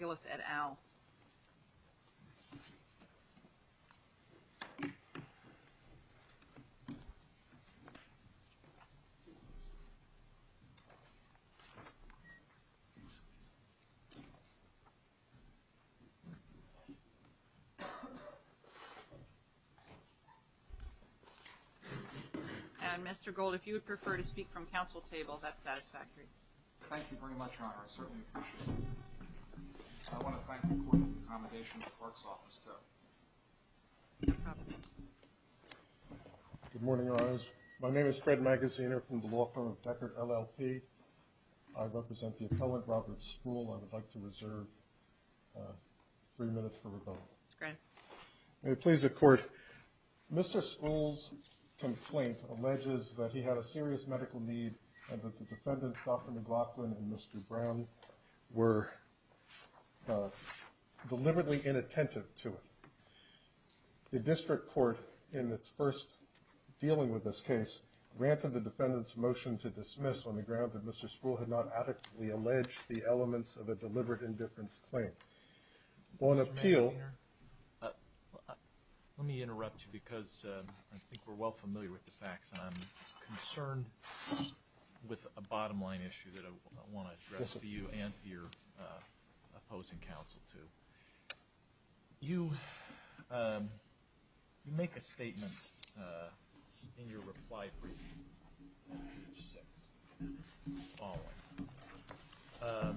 at AL. And Mr. Gold, if you would prefer to speak from council table, that's satisfactory. Thank you very much, Your Honor. I certainly appreciate it. I want to thank the court for the accommodation in the court's office, too. No problem. Good morning, Your Honors. My name is Fred Magaziner from the law firm of Deckard, LLP. I represent the appellant, Robert Spruill. I would like to reserve three minutes for rebuttal. That's great. May it please the court, Mr. Spruill's complaint alleges that he had a serious medical need and that the defendants, Dr. McLaughlin and Mr. Brown, were deliberately inattentive to it. The district court, in its first dealing with this case, granted the defendant's motion to dismiss on the ground that Mr. Spruill had not adequately alleged the elements of a deliberate indifference claim. Mr. Magaziner, let me interrupt you because I think we're well familiar with the facts and I'm concerned with a bottom line issue that I want to address for you and for your opposing counsel, too. You make a statement in your reply briefing on page 6, following.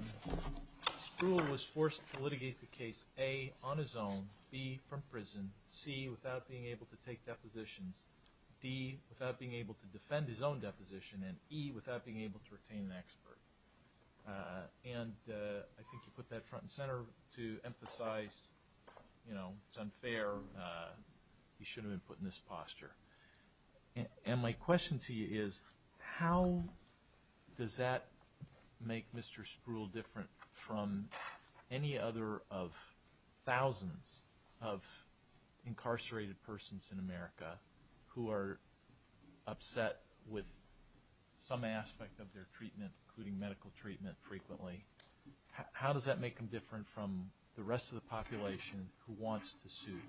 Spruill was forced to litigate the case, A, on his own, B, from prison, C, without being able to take depositions, D, without being able to defend his own deposition, and E, without being able to retain an expert. And I think you put that front and center to emphasize, you know, it's unfair. He shouldn't have been put in this posture. And my question to you is, how does that make Mr. Spruill different from any other of thousands of incarcerated persons in America who are upset with some aspect of their treatment, including medical treatment, frequently? How does that make him different from the rest of the population who wants to sue?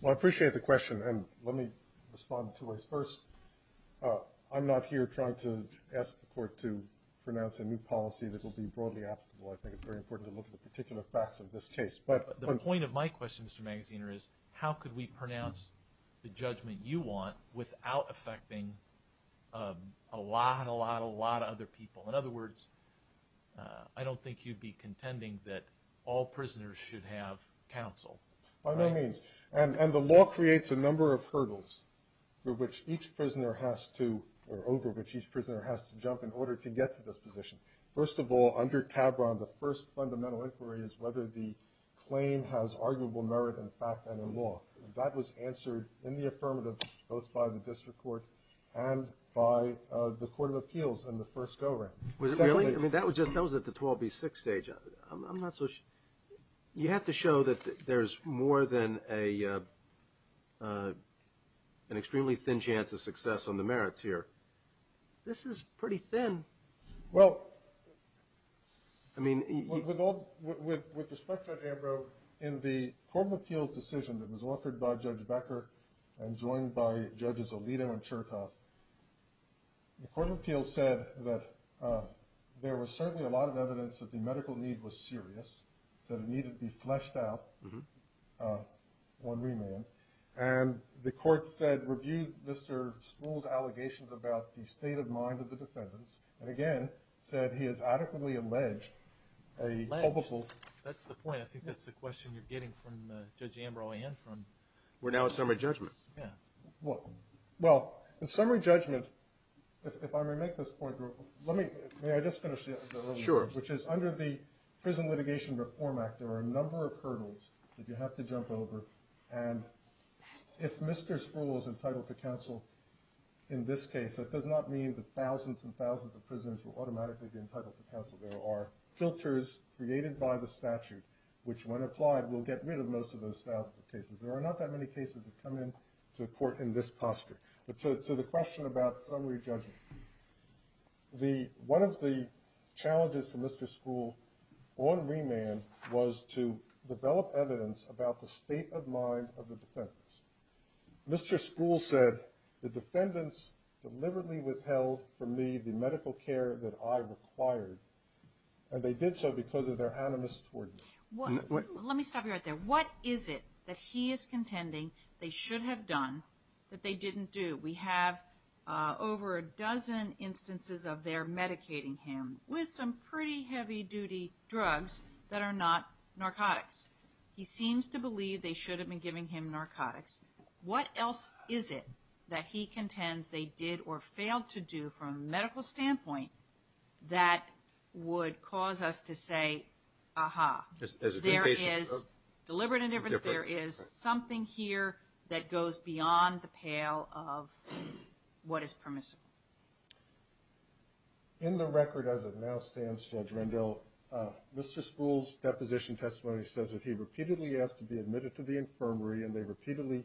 Well, I appreciate the question, and let me respond in two ways. First, I'm not here trying to ask the Court to pronounce a new policy that will be broadly applicable. I think it's very important to look at the particular facts of this case. But the point of my question, Mr. Magaziner, is how could we pronounce the judgment you want without affecting a lot, a lot, a lot of other people? In other words, I don't think you'd be contending that all prisoners should have counsel. By no means. And the law creates a number of hurdles for which each prisoner has to, or over which each prisoner has to jump in order to get to this position. First of all, under CABRON, the first fundamental inquiry is whether the claim has arguable merit in fact and in law. That was answered in the affirmative both by the District Court and by the Court of Appeals in the first go-round. Was it really? I mean, that was at the 12B6 stage. I'm not so sure. You have to show that there's more than an extremely thin chance of success on the merits here. This is pretty thin. Well, I mean, with respect to Judge Ambrose, in the Court of Appeals decision that was offered by Judge Becker and joined by Judges Alito and Chertoff, the Court of Appeals said that there was certainly a lot of evidence that the medical need was serious, that it needed to be fleshed out on remand. And the Court said, reviewed Mr. Spruill's allegations about the state of mind of the defendants, and again said he has adequately alleged a culpable... Alleged? That's the point. I think that's the question you're getting from Judge Ambrose and from... We're now at summary judgment. Yeah. Well, in summary judgment, if I may make this point, let me, may I just finish the other one? Sure. Which is under the Prison Litigation Reform Act there are a number of hurdles that you have to jump over and if Mr. Spruill is entitled to counsel in this case, that does not mean that thousands and thousands of prisoners will automatically be entitled to counsel. There are filters created by the statute which, when applied, will get rid of most of those thousands of cases. There are not that many cases that come into court in this posture. But to the question about summary judgment, one of the challenges for Mr. Spruill on remand was to develop evidence about the state of mind of the defendants. Mr. Spruill said the defendants deliberately withheld from me the medical care that I required, and they did so because of their animus toward me. Let me stop you right there. What is it that he is contending they should have done that they didn't do? We have over a dozen instances of their medicating him with some pretty heavy-duty drugs that are not narcotics. He seems to believe they should have been giving him narcotics. What else is it that he contends they did or failed to do from a medical standpoint that would cause us to say, Aha, there is deliberate indifference. There is something here that goes beyond the pale of what is permissible. In the record as it now stands, Judge Rendell, Mr. Spruill's deposition testimony says that he repeatedly asked to be admitted to the infirmary, and they repeatedly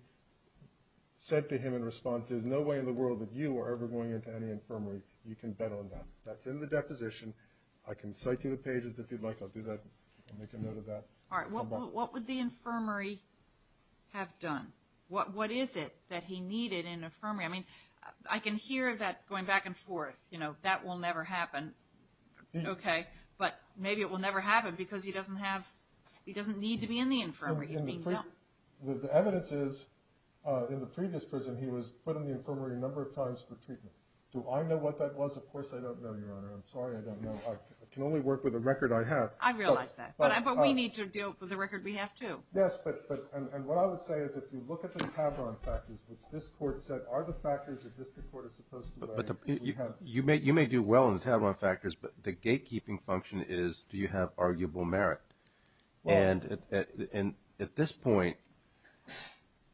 said to him in response, there's no way in the world that you are ever going into any infirmary. You can bet on that. That's in the deposition. I can cite you the pages if you'd like. I'll do that. I'll make a note of that. All right. What would the infirmary have done? What is it that he needed in an infirmary? I mean, I can hear that going back and forth, you know, that will never happen. Okay. But maybe it will never happen because he doesn't need to be in the infirmary. The evidence is in the previous prison he was put in the infirmary a number of times for treatment. Do I know what that was? Of course I don't know, Your Honor. I'm sorry I don't know. I can only work with the record I have. I realize that. But we need to deal with the record we have too. Yes, but what I would say is if you look at the Tavron factors, which this Court said are the factors that this Court is supposed to write. You may do well in the Tavron factors, but the gatekeeping function is do you have arguable merit? And at this point,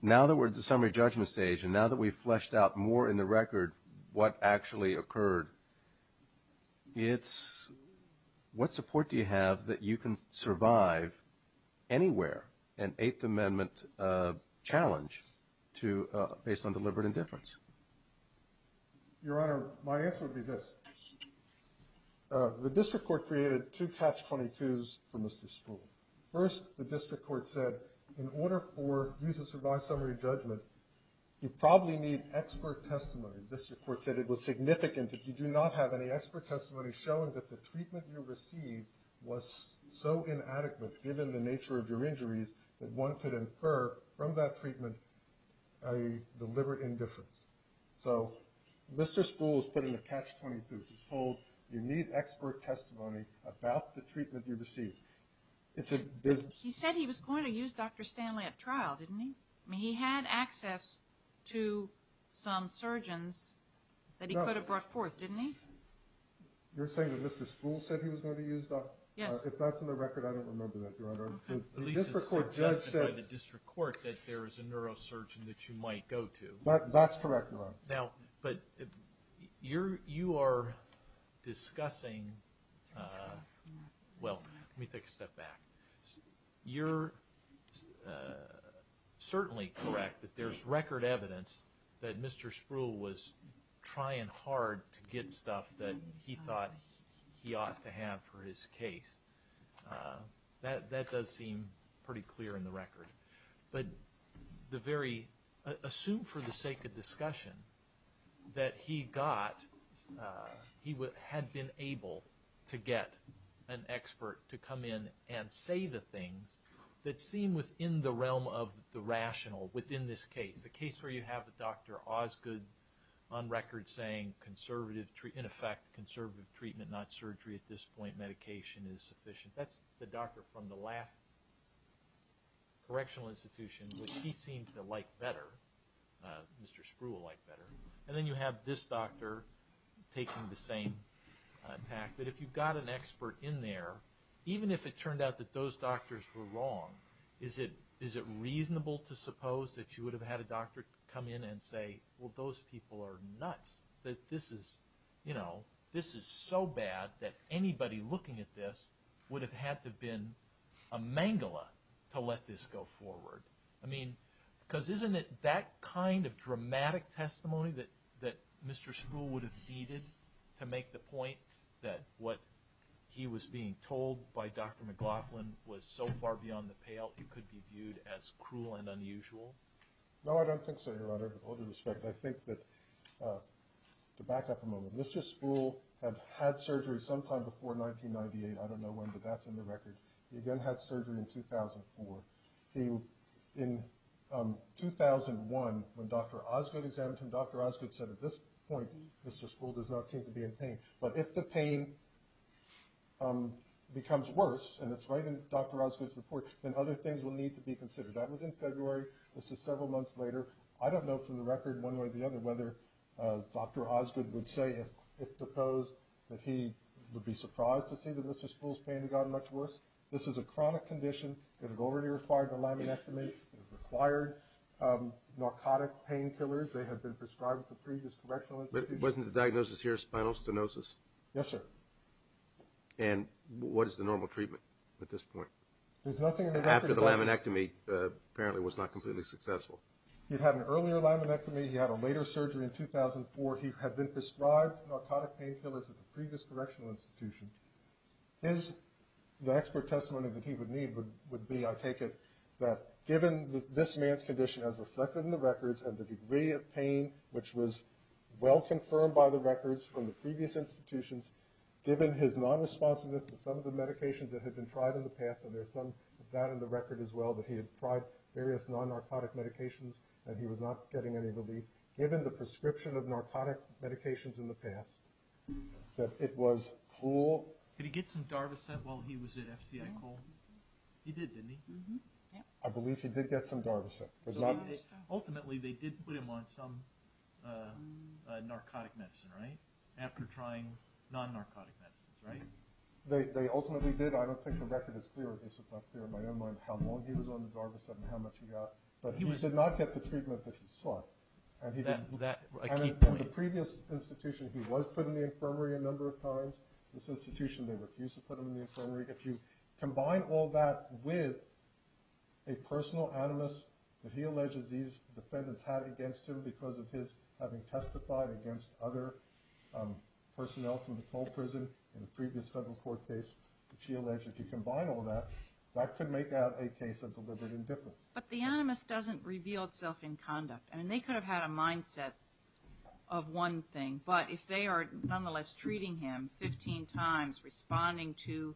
now that we're at the summary judgment stage and now that we've fleshed out more in the record what actually occurred, what support do you have that you can survive anywhere an Eighth Amendment challenge based on deliberate indifference? Your Honor, my answer would be this. The district court created two catch-22s for Mr. Spruill. First, the district court said in order for you to survive summary judgment, you probably need expert testimony. The district court said it was significant that you do not have any expert testimony showing that the treatment you received was so inadequate, given the nature of your injuries, that one could infer from that treatment a deliberate indifference. So Mr. Spruill has put in a catch-22. He's told you need expert testimony about the treatment you received. He said he was going to use Dr. Stanley at trial, didn't he? He had access to some surgeons that he could have brought forth, didn't he? You're saying that Mr. Spruill said he was going to use Dr. Stanley? Yes. If that's in the record, I don't remember that, Your Honor. At least it's suggested by the district court that there is a neurosurgeon that you might go to. That's correct, Your Honor. Now, but you are discussing – well, let me take a step back. You're certainly correct that there's record evidence that Mr. Spruill was trying hard to get stuff that he thought he ought to have for his case. That does seem pretty clear in the record. But assume for the sake of discussion that he had been able to get an expert to come in and say the things that seem within the realm of the rational, within this case, the case where you have Dr. Osgood on record saying, in effect, conservative treatment, not surgery at this point, medication is sufficient. That's the doctor from the last correctional institution, which he seemed to like better, Mr. Spruill liked better. And then you have this doctor taking the same attack. But if you've got an expert in there, even if it turned out that those doctors were wrong, is it reasonable to suppose that you would have had a doctor come in and say, well, those people are nuts, that this is so bad that anybody looking at this would have had to have been a mangala to let this go forward? I mean, because isn't it that kind of dramatic testimony that Mr. Spruill would have needed to make the point that what he was being told by Dr. McLaughlin was so far beyond the pale it could be viewed as cruel and unusual? No, I don't think so, Your Honor, with all due respect. I think that, to back up a moment, Mr. Spruill had had surgery sometime before 1998. I don't know when, but that's in the record. He again had surgery in 2004. In 2001, when Dr. Osgood examined him, Dr. Osgood said, at this point, Mr. Spruill does not seem to be in pain. But if the pain becomes worse, and it's right in Dr. Osgood's report, then other things will need to be considered. That was in February. This is several months later. I don't know from the record, one way or the other, whether Dr. Osgood would say, if proposed, that he would be surprised to see that Mr. Spruill's pain had gotten much worse. This is a chronic condition. It had already required a laminectomy. It had required narcotic painkillers. They had been prescribed at the previous correctional institution. But wasn't the diagnosis here spinal stenosis? Yes, sir. And what is the normal treatment at this point? After the laminectomy, apparently it was not completely successful. He'd had an earlier laminectomy. He had a later surgery in 2004. He had been prescribed narcotic painkillers at the previous correctional institution. The expert testimony that he would need would be, I take it, that given this man's condition as reflected in the records and the degree of pain which was well confirmed by the records from the previous institutions, given his non-responsiveness to some of the medications that had been tried in the past, and there's some of that in the record as well, that he had tried various non-narcotic medications and he was not getting any relief, given the prescription of narcotic medications in the past, that it was cool. Did he get some Darvocet while he was at FCI Cole? He did, didn't he? I believe he did get some Darvocet. Ultimately, they did put him on some narcotic medicine, right? After trying non-narcotic medicines, right? They ultimately did. I don't think the record is clear. It's not clear in my own mind how long he was on the Darvocet and how much he got. But he did not get the treatment that he sought. And the previous institution, he was put in the infirmary a number of times. This institution, they refused to put him in the infirmary. If you combine all that with a personal animus that he alleges these defendants had against him because of his having testified against other personnel from the Cole prison in a previous federal court case, which he alleged, if you combine all that, that could make out a case of deliberate indifference. But the animus doesn't reveal itself in conduct. I mean, they could have had a mindset of one thing, but if they are nonetheless treating him 15 times, responding to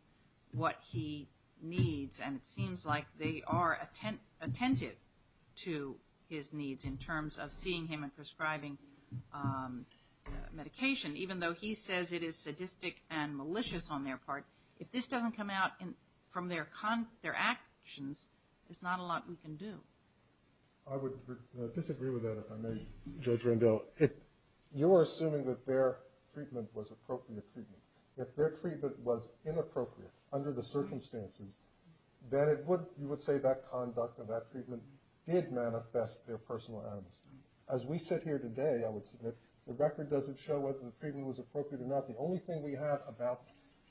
what he needs, and it seems like they are attentive to his needs in terms of seeing him and prescribing medication, even though he says it is sadistic and malicious on their part, if this doesn't come out from their actions, there's not a lot we can do. I would disagree with that, if I may, Judge Rendell. You are assuming that their treatment was appropriate treatment. If their treatment was inappropriate under the circumstances, then you would say that conduct and that treatment did manifest their personal animus. As we sit here today, I would submit, the record doesn't show whether the treatment was appropriate or not. The only thing we have about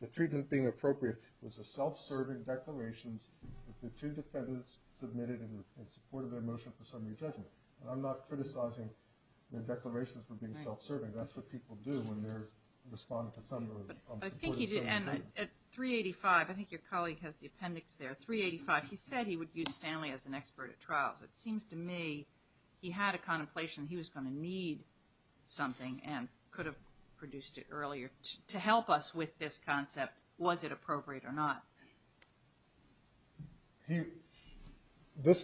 the treatment being appropriate was the self-serving declarations that the two defendants submitted in support of their motion for summary judgment. I'm not criticizing their declarations for being self-serving. That's what people do when they're responding to summary judgment. I think he did, and at 385, I think your colleague has the appendix there, 385, he said he would use Stanley as an expert at trials. It seems to me he had a contemplation that he was going to need something and could have produced it earlier to help us with this concept, was it appropriate or not.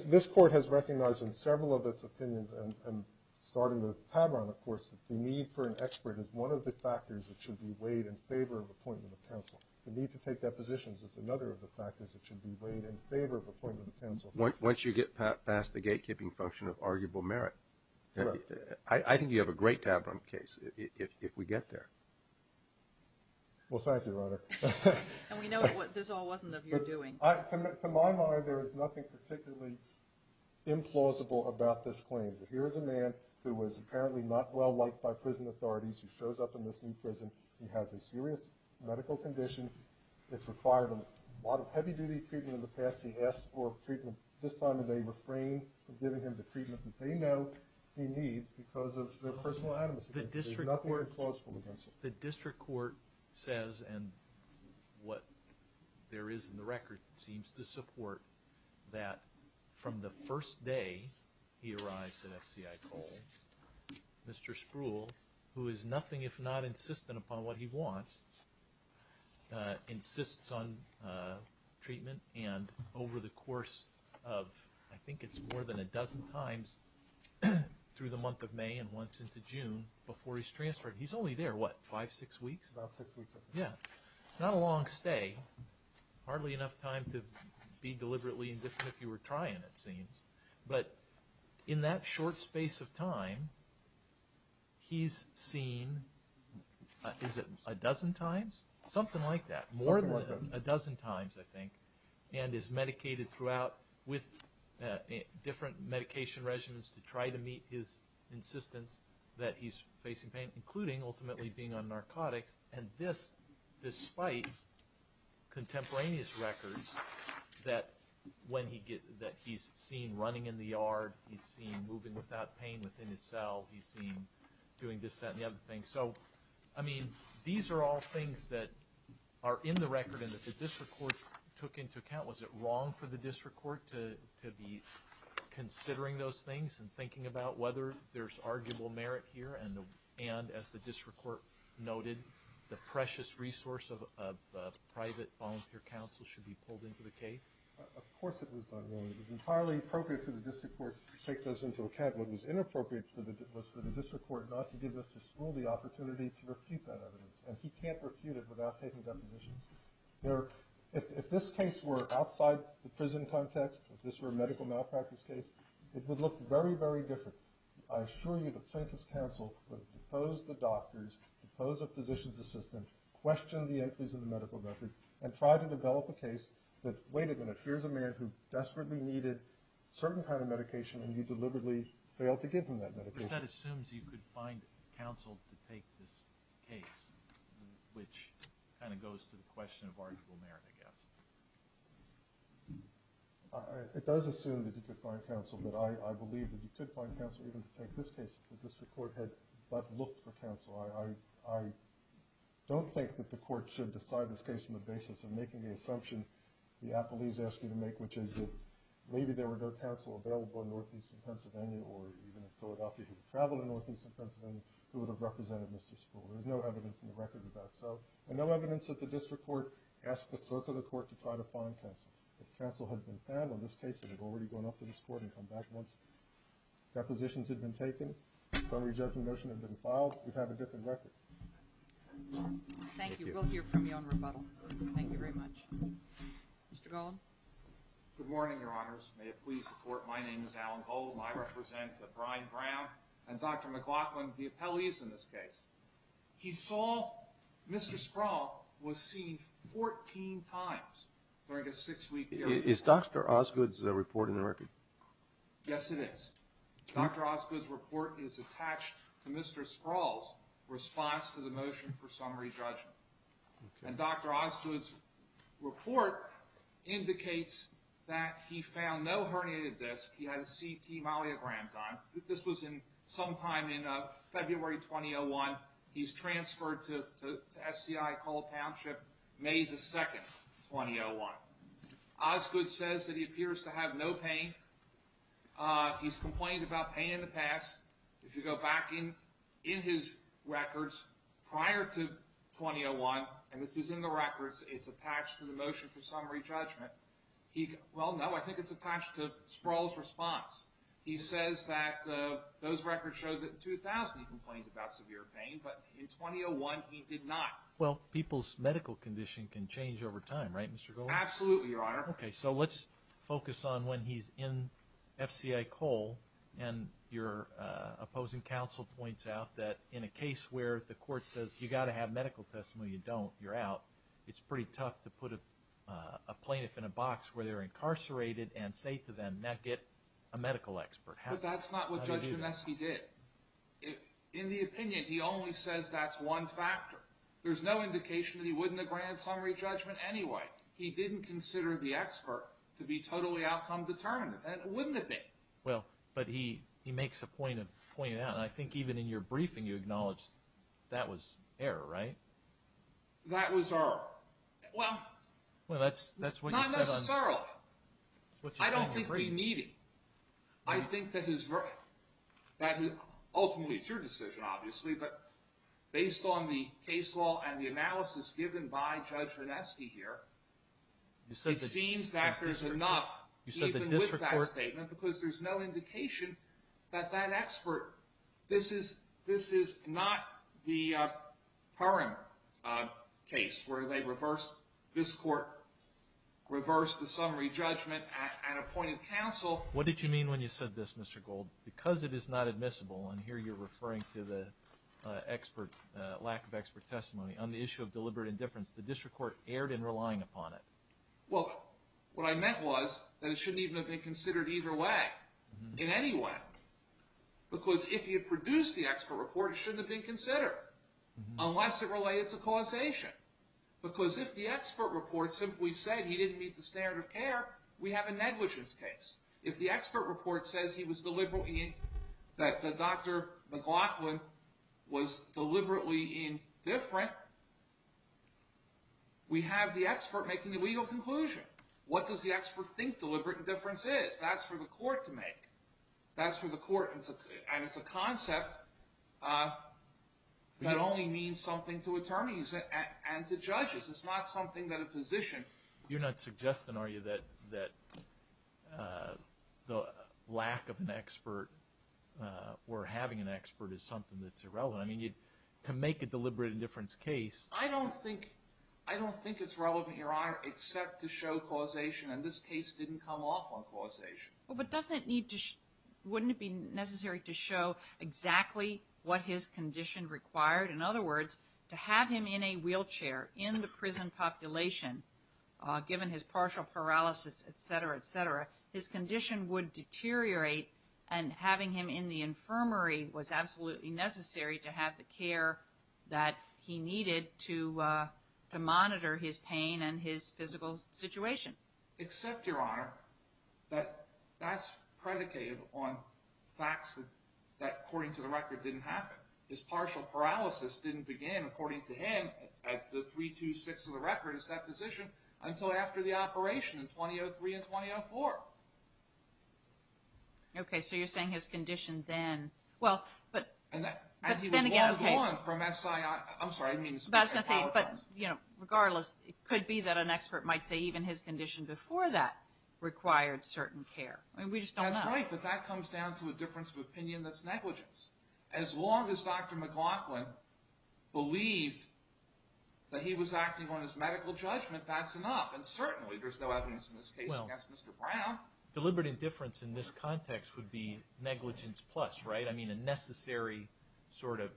This Court has recognized in several of its opinions, and starting with Tavron, of course, that the need for an expert is one of the factors that should be weighed in favor of appointment of counsel. The need to take depositions is another of the factors that should be weighed in favor of appointment of counsel. Once you get past the gatekeeping function of arguable merit, I think you have a great Tavron case if we get there. Well, thank you, Your Honor. And we know what this all wasn't of your doing. To my mind, there is nothing particularly implausible about this claim. Here is a man who is apparently not well liked by prison authorities. He shows up in this new prison. He has a serious medical condition. It's required a lot of heavy-duty treatment. In the past, he asked for treatment. This time of day, refrain from giving him the treatment that they know he needs because of their personal animosity. There's nothing implausible against it. The district court says, and what there is in the record seems to support, that from the first day he arrives at FCI Cole, Mr. Spruill, who is nothing if not insistent upon what he wants, insists on treatment, and over the course of, I think it's more than a dozen times, through the month of May and once into June, before he's transferred. He's only there, what, five, six weeks? About six weeks. Yeah. Not a long stay. Hardly enough time to be deliberately indifferent if you were trying, it seems. But in that short space of time, he's seen, is it a dozen times? Something like that. Something like that. More than a dozen times, I think, and is medicated throughout with different medication regimens to try to meet his insistence that he's facing pain, including ultimately being on narcotics, and this despite contemporaneous records that he's seen running in the yard, he's seen moving without pain within his cell, he's seen doing this, that, and the other thing. So, I mean, these are all things that are in the record and that the district court took into account. Was it wrong for the district court to be considering those things and thinking about whether there's arguable merit here and, as the district court noted, the precious resource of private volunteer counsel should be pulled into the case? Of course it was not wrong. It was entirely appropriate for the district court to take those into account. What was inappropriate was for the district court not to give Mr. Strule the opportunity to refute that evidence, and he can't refute it without taking depositions. If this case were outside the prison context, if this were a medical malpractice case, it would look very, very different. I assure you the plaintiff's counsel would depose the doctors, depose a physician's assistant, question the entries in the medical record, and try to develop a case that, wait a minute, here's a man who desperately needed a certain kind of medication and you deliberately failed to give him that medication. That assumes you could find counsel to take this case, which kind of goes to the question of arguable merit, I guess. It does assume that you could find counsel, but I believe that you could find counsel even to take this case if the district court had but looked for counsel. I don't think that the court should decide this case on the basis of making the assumption the appellees asked you to make, which is that maybe there were no counsel available in northeastern Pennsylvania or even in Philadelphia who traveled to northeastern Pennsylvania who would have represented Mr. Strule. There's no evidence in the record of that. And no evidence that the district court asked the clerk of the court to try to find counsel. If counsel had been found on this case and had already gone up to this court and come back once depositions had been taken, summary judgment motion had been filed, you'd have a different record. Thank you. We'll hear from you on rebuttal. Thank you very much. Mr. Gollum. Good morning, Your Honors. May it please the Court, my name is Alan Gollum. I represent Brian Brown and Dr. McLaughlin, the appellees in this case. He saw Mr. Sproul was seen 14 times during a six-week period. Is Dr. Osgood's report in the record? Yes, it is. Dr. Osgood's report is attached to Mr. Sproul's response to the motion for summary judgment. And Dr. Osgood's report indicates that he found no herniated disc, he had a CT malleogram done. This was sometime in February 2001. He's transferred to SCI Cole Township May 2, 2001. Osgood says that he appears to have no pain. He's complained about pain in the past. If you go back in his records prior to 2001, and this is in the records, it's attached to the motion for summary judgment. Well, no, I think it's attached to Sproul's response. He says that those records show that in 2000 he complained about severe pain, but in 2001 he did not. Well, people's medical condition can change over time, right, Mr. Gollum? Absolutely, Your Honor. Okay, so let's focus on when he's in SCI Cole and your opposing counsel points out that in a case where the court says you've got to have medical testimony, you don't, you're out, it's pretty tough to put a plaintiff in a box where they're incarcerated and say to them, now get a medical expert. But that's not what Judge Doneski did. In the opinion, he only says that's one factor. There's no indication that he wouldn't have granted summary judgment anyway. He didn't consider the expert to be totally outcome determinative, and it wouldn't have been. Well, but he makes a point of pointing it out, and I think even in your briefing you acknowledged that was error, right? That was error. Well, not necessarily. I don't think we need it. I think that ultimately it's your decision, obviously, but based on the case law and the analysis given by Judge Doneski here, it seems that there's enough even with that statement because there's no indication that that expert, this is not the current case where they reversed this court, reversed the summary judgment and appointed counsel. What did you mean when you said this, Mr. Gold? Because it is not admissible, and here you're referring to the expert, lack of expert testimony on the issue of deliberate indifference, the district court erred in relying upon it. Well, what I meant was that it shouldn't even have been considered either way in any way because if he had produced the expert report, it shouldn't have been considered unless it related to causation because if the expert report simply said he didn't meet the standard of care, we have a negligence case. If the expert report says he was deliberately, that Dr. McLaughlin was deliberately indifferent, we have the expert making the legal conclusion. What does the expert think deliberate indifference is? That's for the court to make. That's for the court, and it's a concept that only means something to attorneys and to judges. It's not something that a physician. You're not suggesting, are you, that the lack of an expert or having an expert is something that's irrelevant? I mean, to make a deliberate indifference case. I don't think it's relevant, Your Honor, except to show causation, and this case didn't come off on causation. But wouldn't it be necessary to show exactly what his condition required? In other words, to have him in a wheelchair in the prison population, given his partial paralysis, et cetera, et cetera, his condition would deteriorate, and having him in the infirmary was absolutely necessary to have the care that he needed to monitor his pain and his physical situation. Except, Your Honor, that that's predicated on facts that, according to the record, didn't happen. His partial paralysis didn't begin, according to him, at the 3-2-6 of the record, his deposition, until after the operation in 2003 and 2004. Okay, so you're saying his condition then, well, but then again, okay. And he was long gone from S-I-I. I'm sorry, I didn't mean to say that. I apologize. But, you know, regardless, it could be that an expert might say even his condition before that required certain care. I mean, we just don't know. That's right, but that comes down to a difference of opinion that's negligence. As long as Dr. McLaughlin believed that he was acting on his medical judgment, that's enough. And certainly there's no evidence in this case against Mr. Brown. Well, deliberate indifference in this context would be negligence plus, right? I mean, a necessary sort of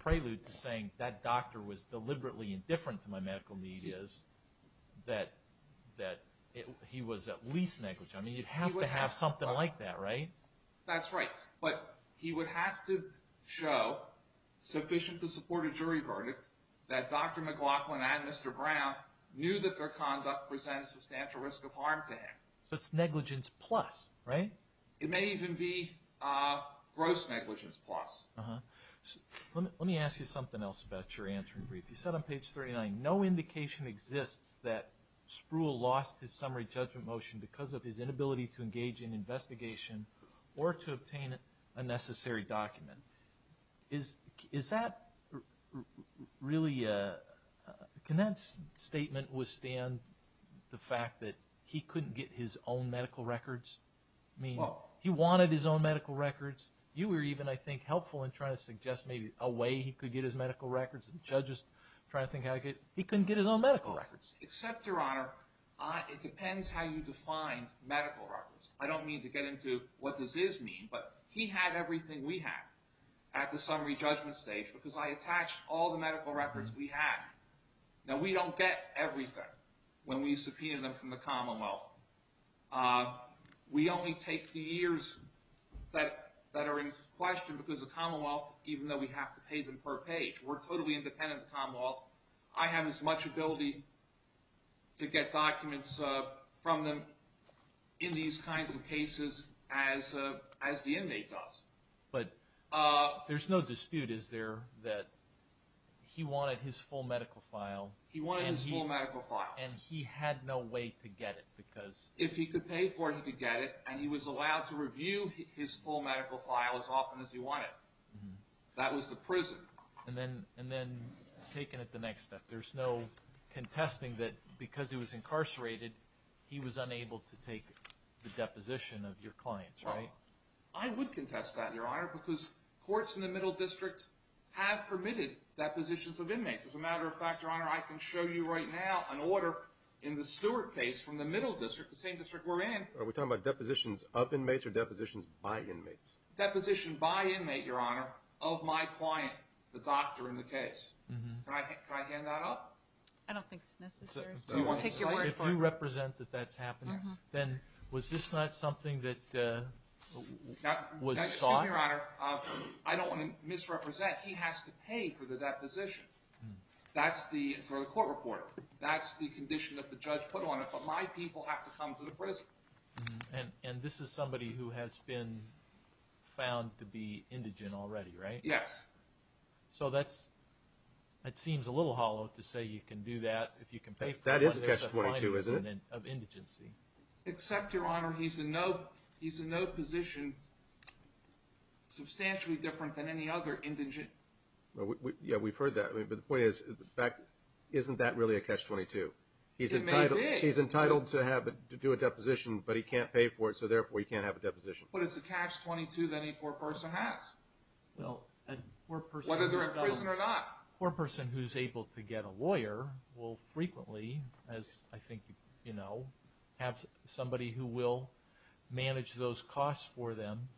prelude to saying that doctor was deliberately indifferent to my medical need is that he was at least negligent. I mean, you'd have to have something like that, right? That's right, but he would have to show sufficient to support a jury verdict that Dr. McLaughlin and Mr. Brown knew that their conduct presented substantial risk of harm to him. So it's negligence plus, right? It may even be gross negligence plus. Let me ask you something else about your answering brief. You said on page 39, no indication exists that Spruill lost his summary judgment motion because of his inability to engage in investigation or to obtain a necessary document. Can that statement withstand the fact that he couldn't get his own medical records? I mean, he wanted his own medical records. You were even, I think, helpful in trying to suggest maybe a way he could get his medical records. The judge is trying to think how he could. He couldn't get his own medical records. Except, Your Honor, it depends how you define medical records. I don't mean to get into what does this mean, but he had everything we had at the summary judgment stage because I attached all the medical records we had. Now, we don't get everything when we subpoena them from the Commonwealth. We only take the years that are in question because the Commonwealth, even though we have to pay them per page, we're totally independent of the Commonwealth. I have as much ability to get documents from them in these kinds of cases as the inmate does. But there's no dispute, is there, that he wanted his full medical file. He wanted his full medical file. And he had no way to get it because... If he could pay for it, he could get it, and he was allowed to review his full medical file as often as he wanted. That was the prison. And then taken at the next step, there's no contesting that because he was incarcerated, he was unable to take the deposition of your clients, right? I would contest that, Your Honor, because courts in the Middle District have permitted depositions of inmates. As a matter of fact, Your Honor, I can show you right now an order in the Stewart case from the Middle District, the same district we're in. Are we talking about depositions of inmates or depositions by inmates? Deposition by inmate, Your Honor, of my client, the doctor in the case. Can I hand that up? I don't think it's necessary. If you represent that that's happening, then was this not something that was sought? Excuse me, Your Honor, I don't want to misrepresent. He has to pay for the deposition. That's the court report. That's the condition that the judge put on it, but my people have to come to the prison. And this is somebody who has been found to be indigent already, right? Yes. So that seems a little hollow to say you can do that if you can pay for it. That is a catch-22, isn't it? Except, Your Honor, he's in no position substantially different than any other indigent. Yeah, we've heard that. But the point is, isn't that really a catch-22? It may be. He's entitled to do a deposition, but he can't pay for it, so therefore he can't have a deposition. But it's a catch-22 that any poor person has, whether they're in prison or not. A poor person who's able to get a lawyer will frequently, as I think you know, have somebody who will manage those costs for them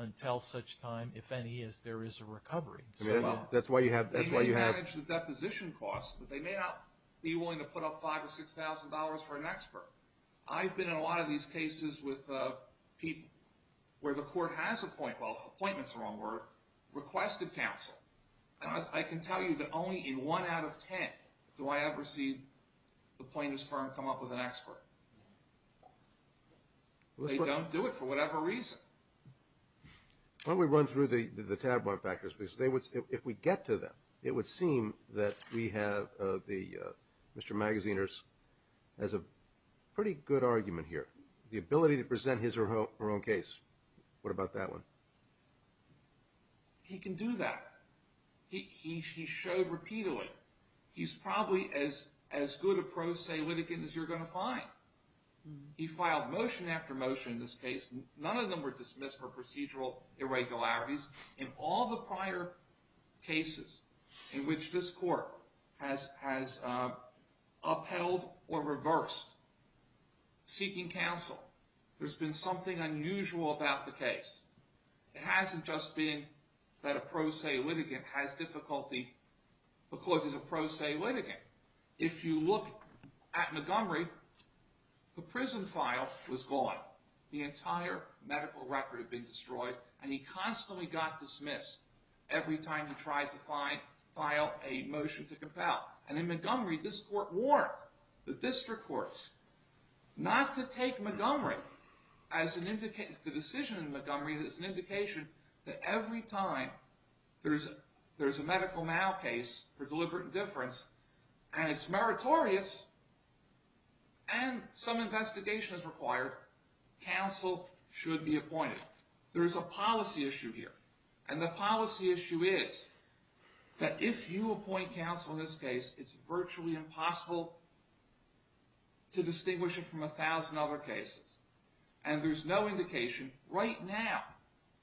until such time, if any, as there is a recovery. They may manage the deposition costs, but they may not be willing to put up $5,000 or $6,000 for an expert. I've been in a lot of these cases with people where the court has appointed, well, appointment's the wrong word, requested counsel. And I can tell you that only in one out of ten do I ever see the plaintiff's firm come up with an expert. They don't do it for whatever reason. Why don't we run through the tab-mark factors? Because if we get to them, it would seem that we have the Mr. Magaziner's, has a pretty good argument here, the ability to present his or her own case. What about that one? He can do that. He showed repeatedly. He's probably as good a pro se litigant as you're going to find. He filed motion after motion in this case. None of them were dismissed for procedural irregularities. In all the prior cases in which this court has upheld or reversed seeking counsel, there's been something unusual about the case. It hasn't just been that a pro se litigant has difficulty because he's a pro se litigant. If you look at Montgomery, the prison file was gone. The entire medical record had been destroyed, and he constantly got dismissed every time he tried to file a motion to compel. In Montgomery, this court warned the district courts not to take the decision in Montgomery as an indication that every time there's a medical mal case for deliberate indifference and it's meritorious and some investigation is required, counsel should be appointed. There's a policy issue here, and the policy issue is that if you appoint counsel in this case, it's virtually impossible to distinguish it from a thousand other cases, and there's no indication. Right now,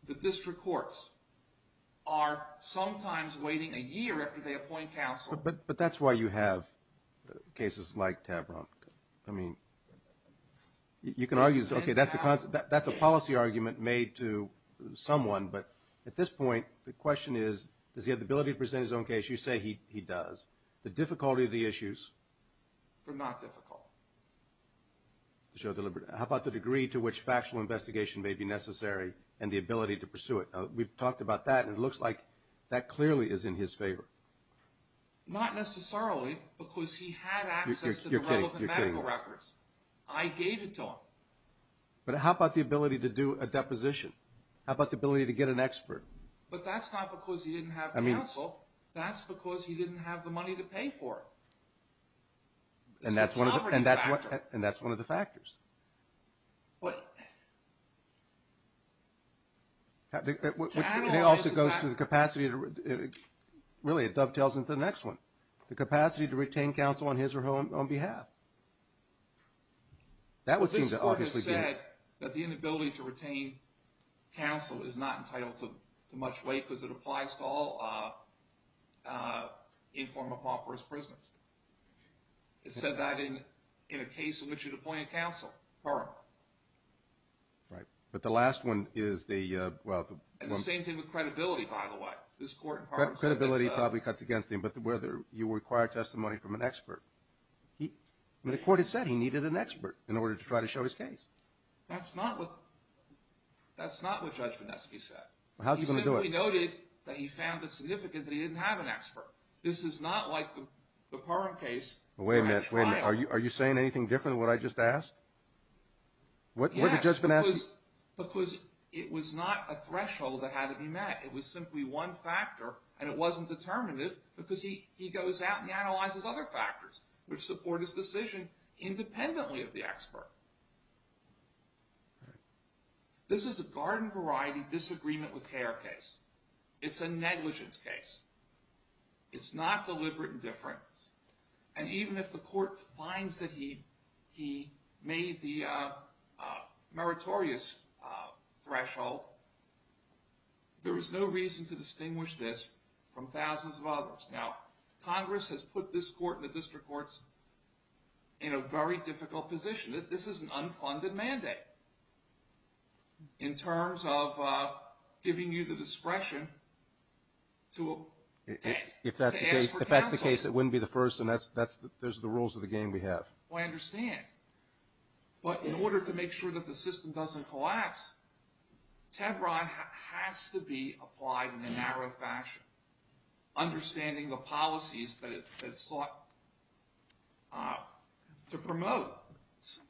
the district courts are sometimes waiting a year after they appoint counsel. But that's why you have cases like Tavron. I mean, you can argue, okay, that's a policy argument made to someone, but at this point the question is does he have the ability to present his own case? You say he does. The difficulty of the issues? They're not difficult. How about the degree to which factual investigation may be necessary and the ability to pursue it? We've talked about that, and it looks like that clearly is in his favor. Not necessarily because he had access to the relevant medical records. I gave it to him. But how about the ability to do a deposition? How about the ability to get an expert? But that's not because he didn't have counsel. That's because he didn't have the money to pay for it. And that's one of the factors. It also goes to the capacity to really, it dovetails into the next one, the capacity to retain counsel on his or her own behalf. That would seem to obviously be. This court has said that the inability to retain counsel is not entitled to much weight because it applies to all informed law first prisoners. It said that in a case in which you're deploying counsel, right, but the last one is the same thing with credibility. By the way, this court credibility probably cuts against him. But whether you require testimony from an expert, the court had said he needed an expert in order to try to show his case. That's not what that's not what Judge Vinesky said. How's he going to do it? He noted that he found it significant that he didn't have an expert. This is not like the current case. Wait a minute. Are you saying anything different? To what I just asked? Yes, because it was not a threshold that had to be met. It was simply one factor, and it wasn't determinative because he goes out and analyzes other factors which support his decision independently of the expert. This is a garden variety disagreement with care case. It's a negligence case. It's not deliberate indifference. And even if the court finds that he made the meritorious threshold, there is no reason to distinguish this from thousands of others. Now, Congress has put this court and the district courts in a very difficult position. This is an unfunded mandate in terms of giving you the discretion to ask for counsel. In this case, it wouldn't be the first, and those are the rules of the game we have. Well, I understand. But in order to make sure that the system doesn't collapse, Tebron has to be applied in a narrow fashion, understanding the policies that it sought to promote.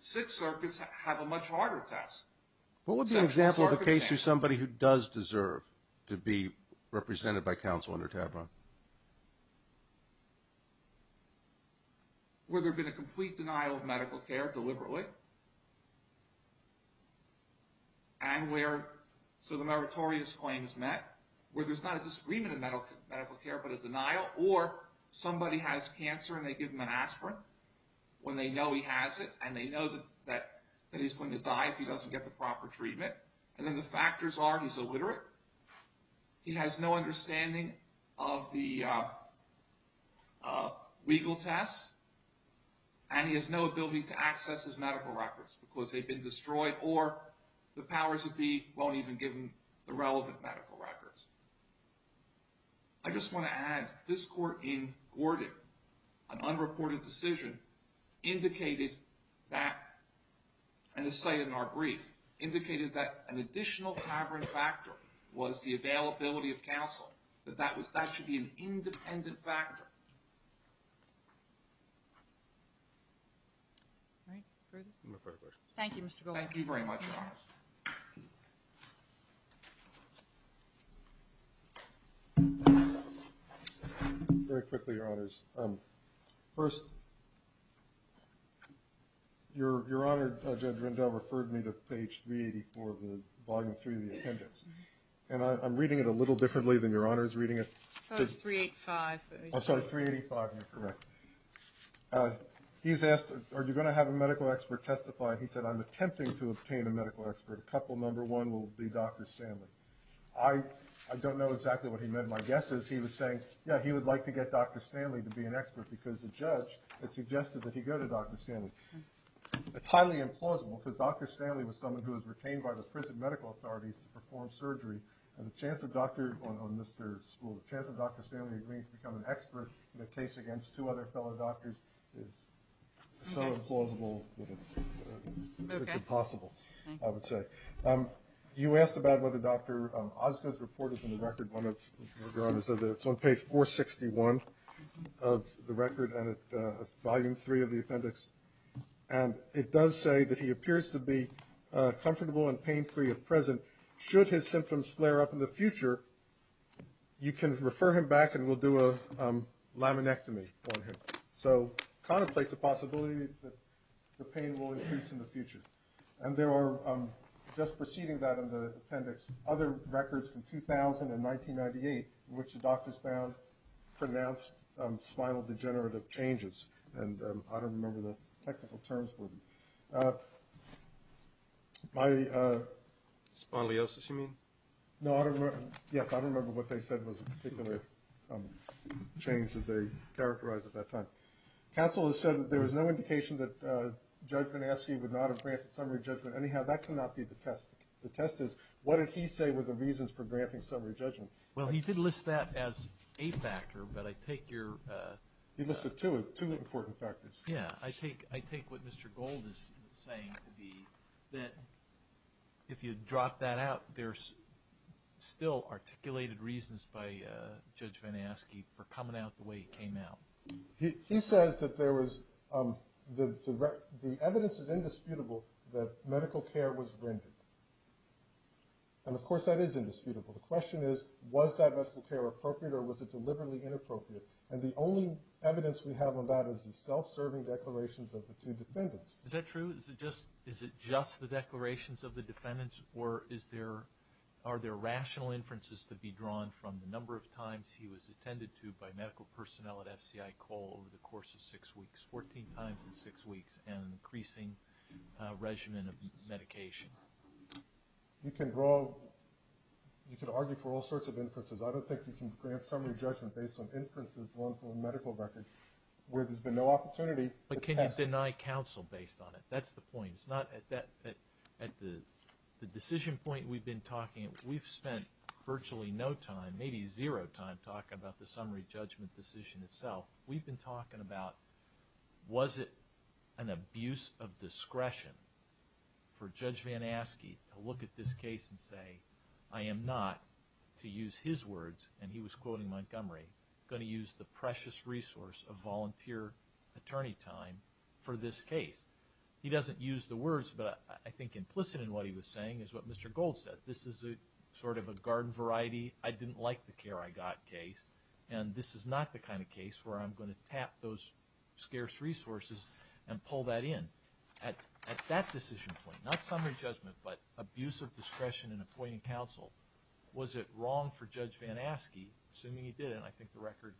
Six circuits have a much harder task. What would be an example of a case where somebody who does deserve to be represented by counsel under Tebron? Where there had been a complete denial of medical care deliberately, and where some of the meritorious claims met, where there's not a disagreement in medical care but a denial, or somebody has cancer and they give him an aspirin when they know he has it and they know that he's going to die if he doesn't get the proper treatment, and then the factors are he's illiterate, he has no understanding of the legal tests, and he has no ability to access his medical records because they've been destroyed, or the powers that be won't even give him the relevant medical records. I just want to add, this court in Gordon, an unreported decision, indicated that, and to say it in our brief, indicated that an additional cavern factor was the availability of counsel, that that should be an independent factor. Thank you, Mr. Goldman. Thank you very much, Your Honors. Very quickly, Your Honors. First, Your Honor, Judge Rendell referred me to page 384 of the volume 3 of the appendix, and I'm reading it a little differently than Your Honor is reading it. Page 385. Oh, sorry, 385, you're correct. He's asked, are you going to have a medical expert testify? He said, I'm attempting to obtain a medical expert. A couple, number one will be Dr. Stanley. I don't know exactly what he meant. My guess is he was saying, yeah, he would like to get Dr. Stanley to be an expert, because the judge had suggested that he go to Dr. Stanley. It's highly implausible, because Dr. Stanley was someone who was retained by the prison medical authorities to perform surgery, and the chance of Dr. Stanley agreeing to become an expert in a case against two other fellow doctors is so implausible that it's impossible, I would say. You asked about whether Dr. Osgood's report is in the record. One of Your Honors said that it's on page 461 of the record and at volume 3 of the appendix, and it does say that he appears to be comfortable and pain-free at present. Should his symptoms flare up in the future, you can refer him back and we'll do a laminectomy on him. So contemplates a possibility that the pain will increase in the future. And there are, just preceding that in the appendix, other records from 2000 and 1998 in which the doctors found pronounced spinal degenerative changes, and I don't remember the technical terms for them. Spondylosis, you mean? No, I don't remember. Yes, I don't remember what they said was a particular change that they characterized at that time. Counsel has said that there was no indication that Judge Van Aske would not have granted summary judgment. Anyhow, that cannot be the test. The test is what did he say were the reasons for granting summary judgment? Well, he did list that as a factor, but I take your – He listed two important factors. Yes, I take what Mr. Gold is saying to be that if you drop that out, there's still articulated reasons by Judge Van Aske for coming out the way he came out. He says that the evidence is indisputable that medical care was rendered. And, of course, that is indisputable. The question is, was that medical care appropriate or was it deliberately inappropriate? And the only evidence we have on that is the self-serving declarations of the two defendants. Is that true? Is it just the declarations of the defendants, or are there rational inferences to be drawn from the number of times he was attended to by medical personnel at FCI Cole over the course of six weeks, 14 times in six weeks, and increasing regimen of medication? You can argue for all sorts of inferences. I don't think you can grant summary judgment based on inferences drawn from a medical record where there's been no opportunity. But can you deny counsel based on it? That's the point. It's not at the decision point we've been talking. We've spent virtually no time, maybe zero time, talking about the summary judgment decision itself. We've been talking about was it an abuse of discretion for Judge Van Aske to look at this case and say, I am not, to use his words, and he was quoting Montgomery, going to use the precious resource of volunteer attorney time for this case. He doesn't use the words, but I think implicit in what he was saying is what Mr. Gold said. This is sort of a garden variety, I didn't like the care I got case, and this is not the kind of case where I'm going to tap those scarce resources and pull that in. At that decision point, not summary judgment, but abuse of discretion in appointing counsel, was it wrong for Judge Van Aske, assuming he did, and I think the record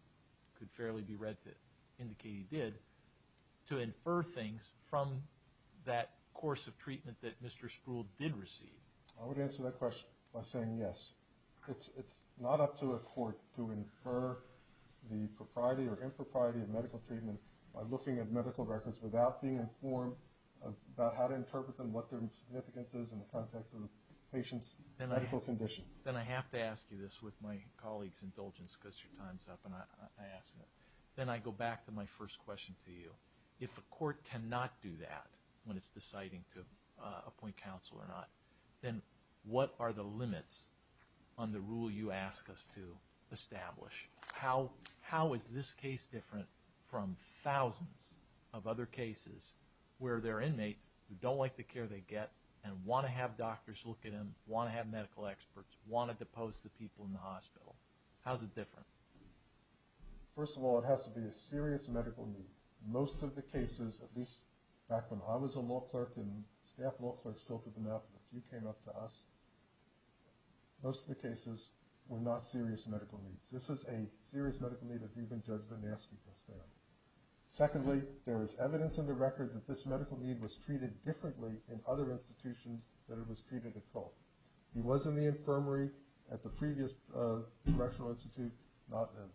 could fairly be read to indicate he did, to infer things from that course of treatment that Mr. Spruill did receive? I would answer that question by saying yes. It's not up to a court to infer the propriety or impropriety of medical treatment by looking at medical records without being informed about how to interpret them, what their significance is in the context of the patient's medical condition. Then I have to ask you this with my colleague's indulgence because your time is up, and I ask it. Then I go back to my first question to you. If a court cannot do that when it's deciding to appoint counsel or not, then what are the limits on the rule you ask us to establish? How is this case different from thousands of other cases where there are inmates who don't like the care they get and want to have doctors look at them, want to have medical experts, want to depose the people in the hospital? How is it different? First of all, it has to be a serious medical need. Most of the cases, at least back when I was a law clerk and staff law clerks talked with them, a few came up to us, most of the cases were not serious medical needs. This is a serious medical need if you've been judged a nasty testament. Secondly, there is evidence in the record that this medical need was treated differently in other institutions than it was treated at Culp. He was in the infirmary at the previous Congressional Institute and not the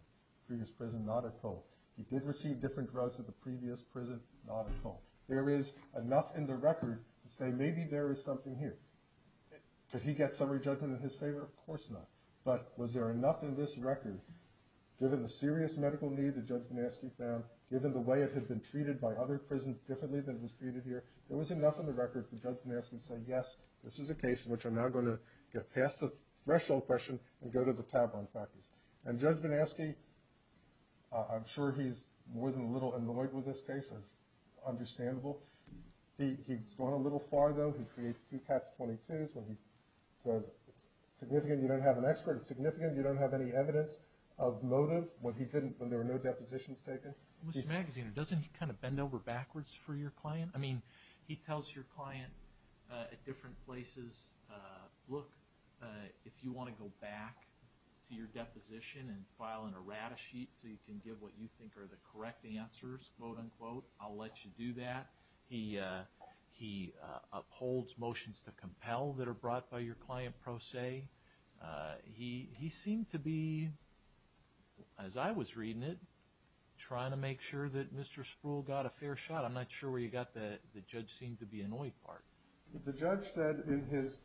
previous prison, not at Culp. He did receive different drugs at the previous prison, not at Culp. There is enough in the record to say maybe there is something here. Could he get summary judgment in his favor? Of course not. But was there enough in this record, given the serious medical need that Judge Gnatsky found, given the way it had been treated by other prisons differently than it was treated here, there was enough in the record for Judge Gnatsky to say, yes, this is a case in which I'm now going to get past the threshold question and go to the Tavron factors. And Judge Gnatsky, I'm sure he's more than a little annoyed with this case. That's understandable. He's gone a little far, though. He creates two catch-22s when he says it's significant you don't have an expert, it's significant you don't have any evidence of motives, when there were no depositions taken. Mr. Magaziner, doesn't he kind of bend over backwards for your client? I mean, he tells your client at different places, look, if you want to go back to your deposition and file an errata sheet so you can give what you think are the correct answers, quote, unquote, I'll let you do that. He upholds motions to compel that are brought by your client pro se. He seemed to be, as I was reading it, trying to make sure that Mr. Spruill got a fair shot. I'm not sure where he got the judge-seemed-to-be-annoyed part. The judge said in his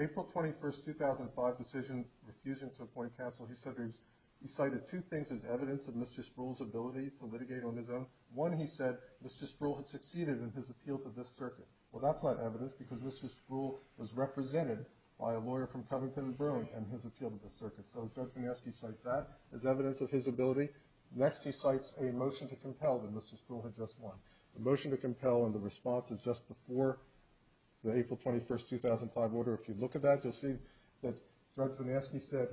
April 21, 2005 decision, refusing to appoint counsel, he cited two things as evidence of Mr. Spruill's ability to litigate on his own. One, he said Mr. Spruill had succeeded in his appeal to this circuit. Well, that's not evidence because Mr. Spruill was represented by a lawyer from Covington and Bruin in his appeal to this circuit. So Judge Gnatsky cites that as evidence of his ability. Next, he cites a motion to compel that Mr. Spruill had just won. The motion to compel and the response is just before the April 21, 2005 order. If you look at that, you'll see that Judge Gnatsky said,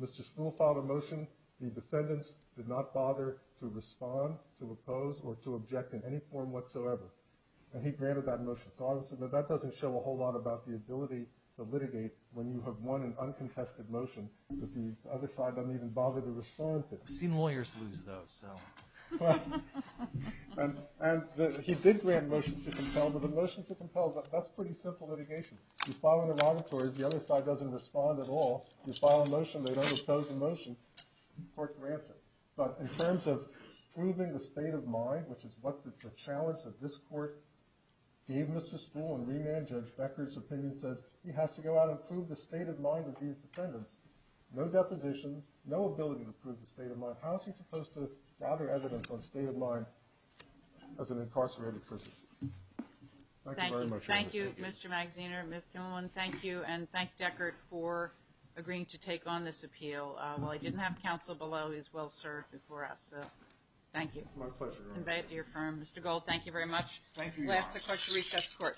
Mr. Spruill filed a motion. The defendants did not bother to respond, to oppose, or to object in any form whatsoever. And he granted that motion. So that doesn't show a whole lot about the ability to litigate when you have won an uncontested motion that the other side doesn't even bother to respond to. I've seen lawyers lose those, so. And he did grant motions to compel, but the motions to compel, that's pretty simple litigation. You file an obituary, the other side doesn't respond at all. You file a motion, they don't oppose the motion. The court grants it. But in terms of proving the state of mind, which is what the challenge that this court gave Mr. Spruill in remand Judge Becker's opinion says, he has to go out and prove the state of mind of these defendants. No depositions, no ability to prove the state of mind. How is he supposed to gather evidence on the state of mind as an incarcerated person? Thank you very much. Thank you, Mr. Magsiner, Ms. Kimmelman. Thank you, and thank Deckard for agreeing to take on this appeal. While he didn't have counsel below, he was well served before us. Thank you. It's my pleasure. Mr. Gold, thank you very much. Thank you, Your Honor. We'll ask the court to recess the court.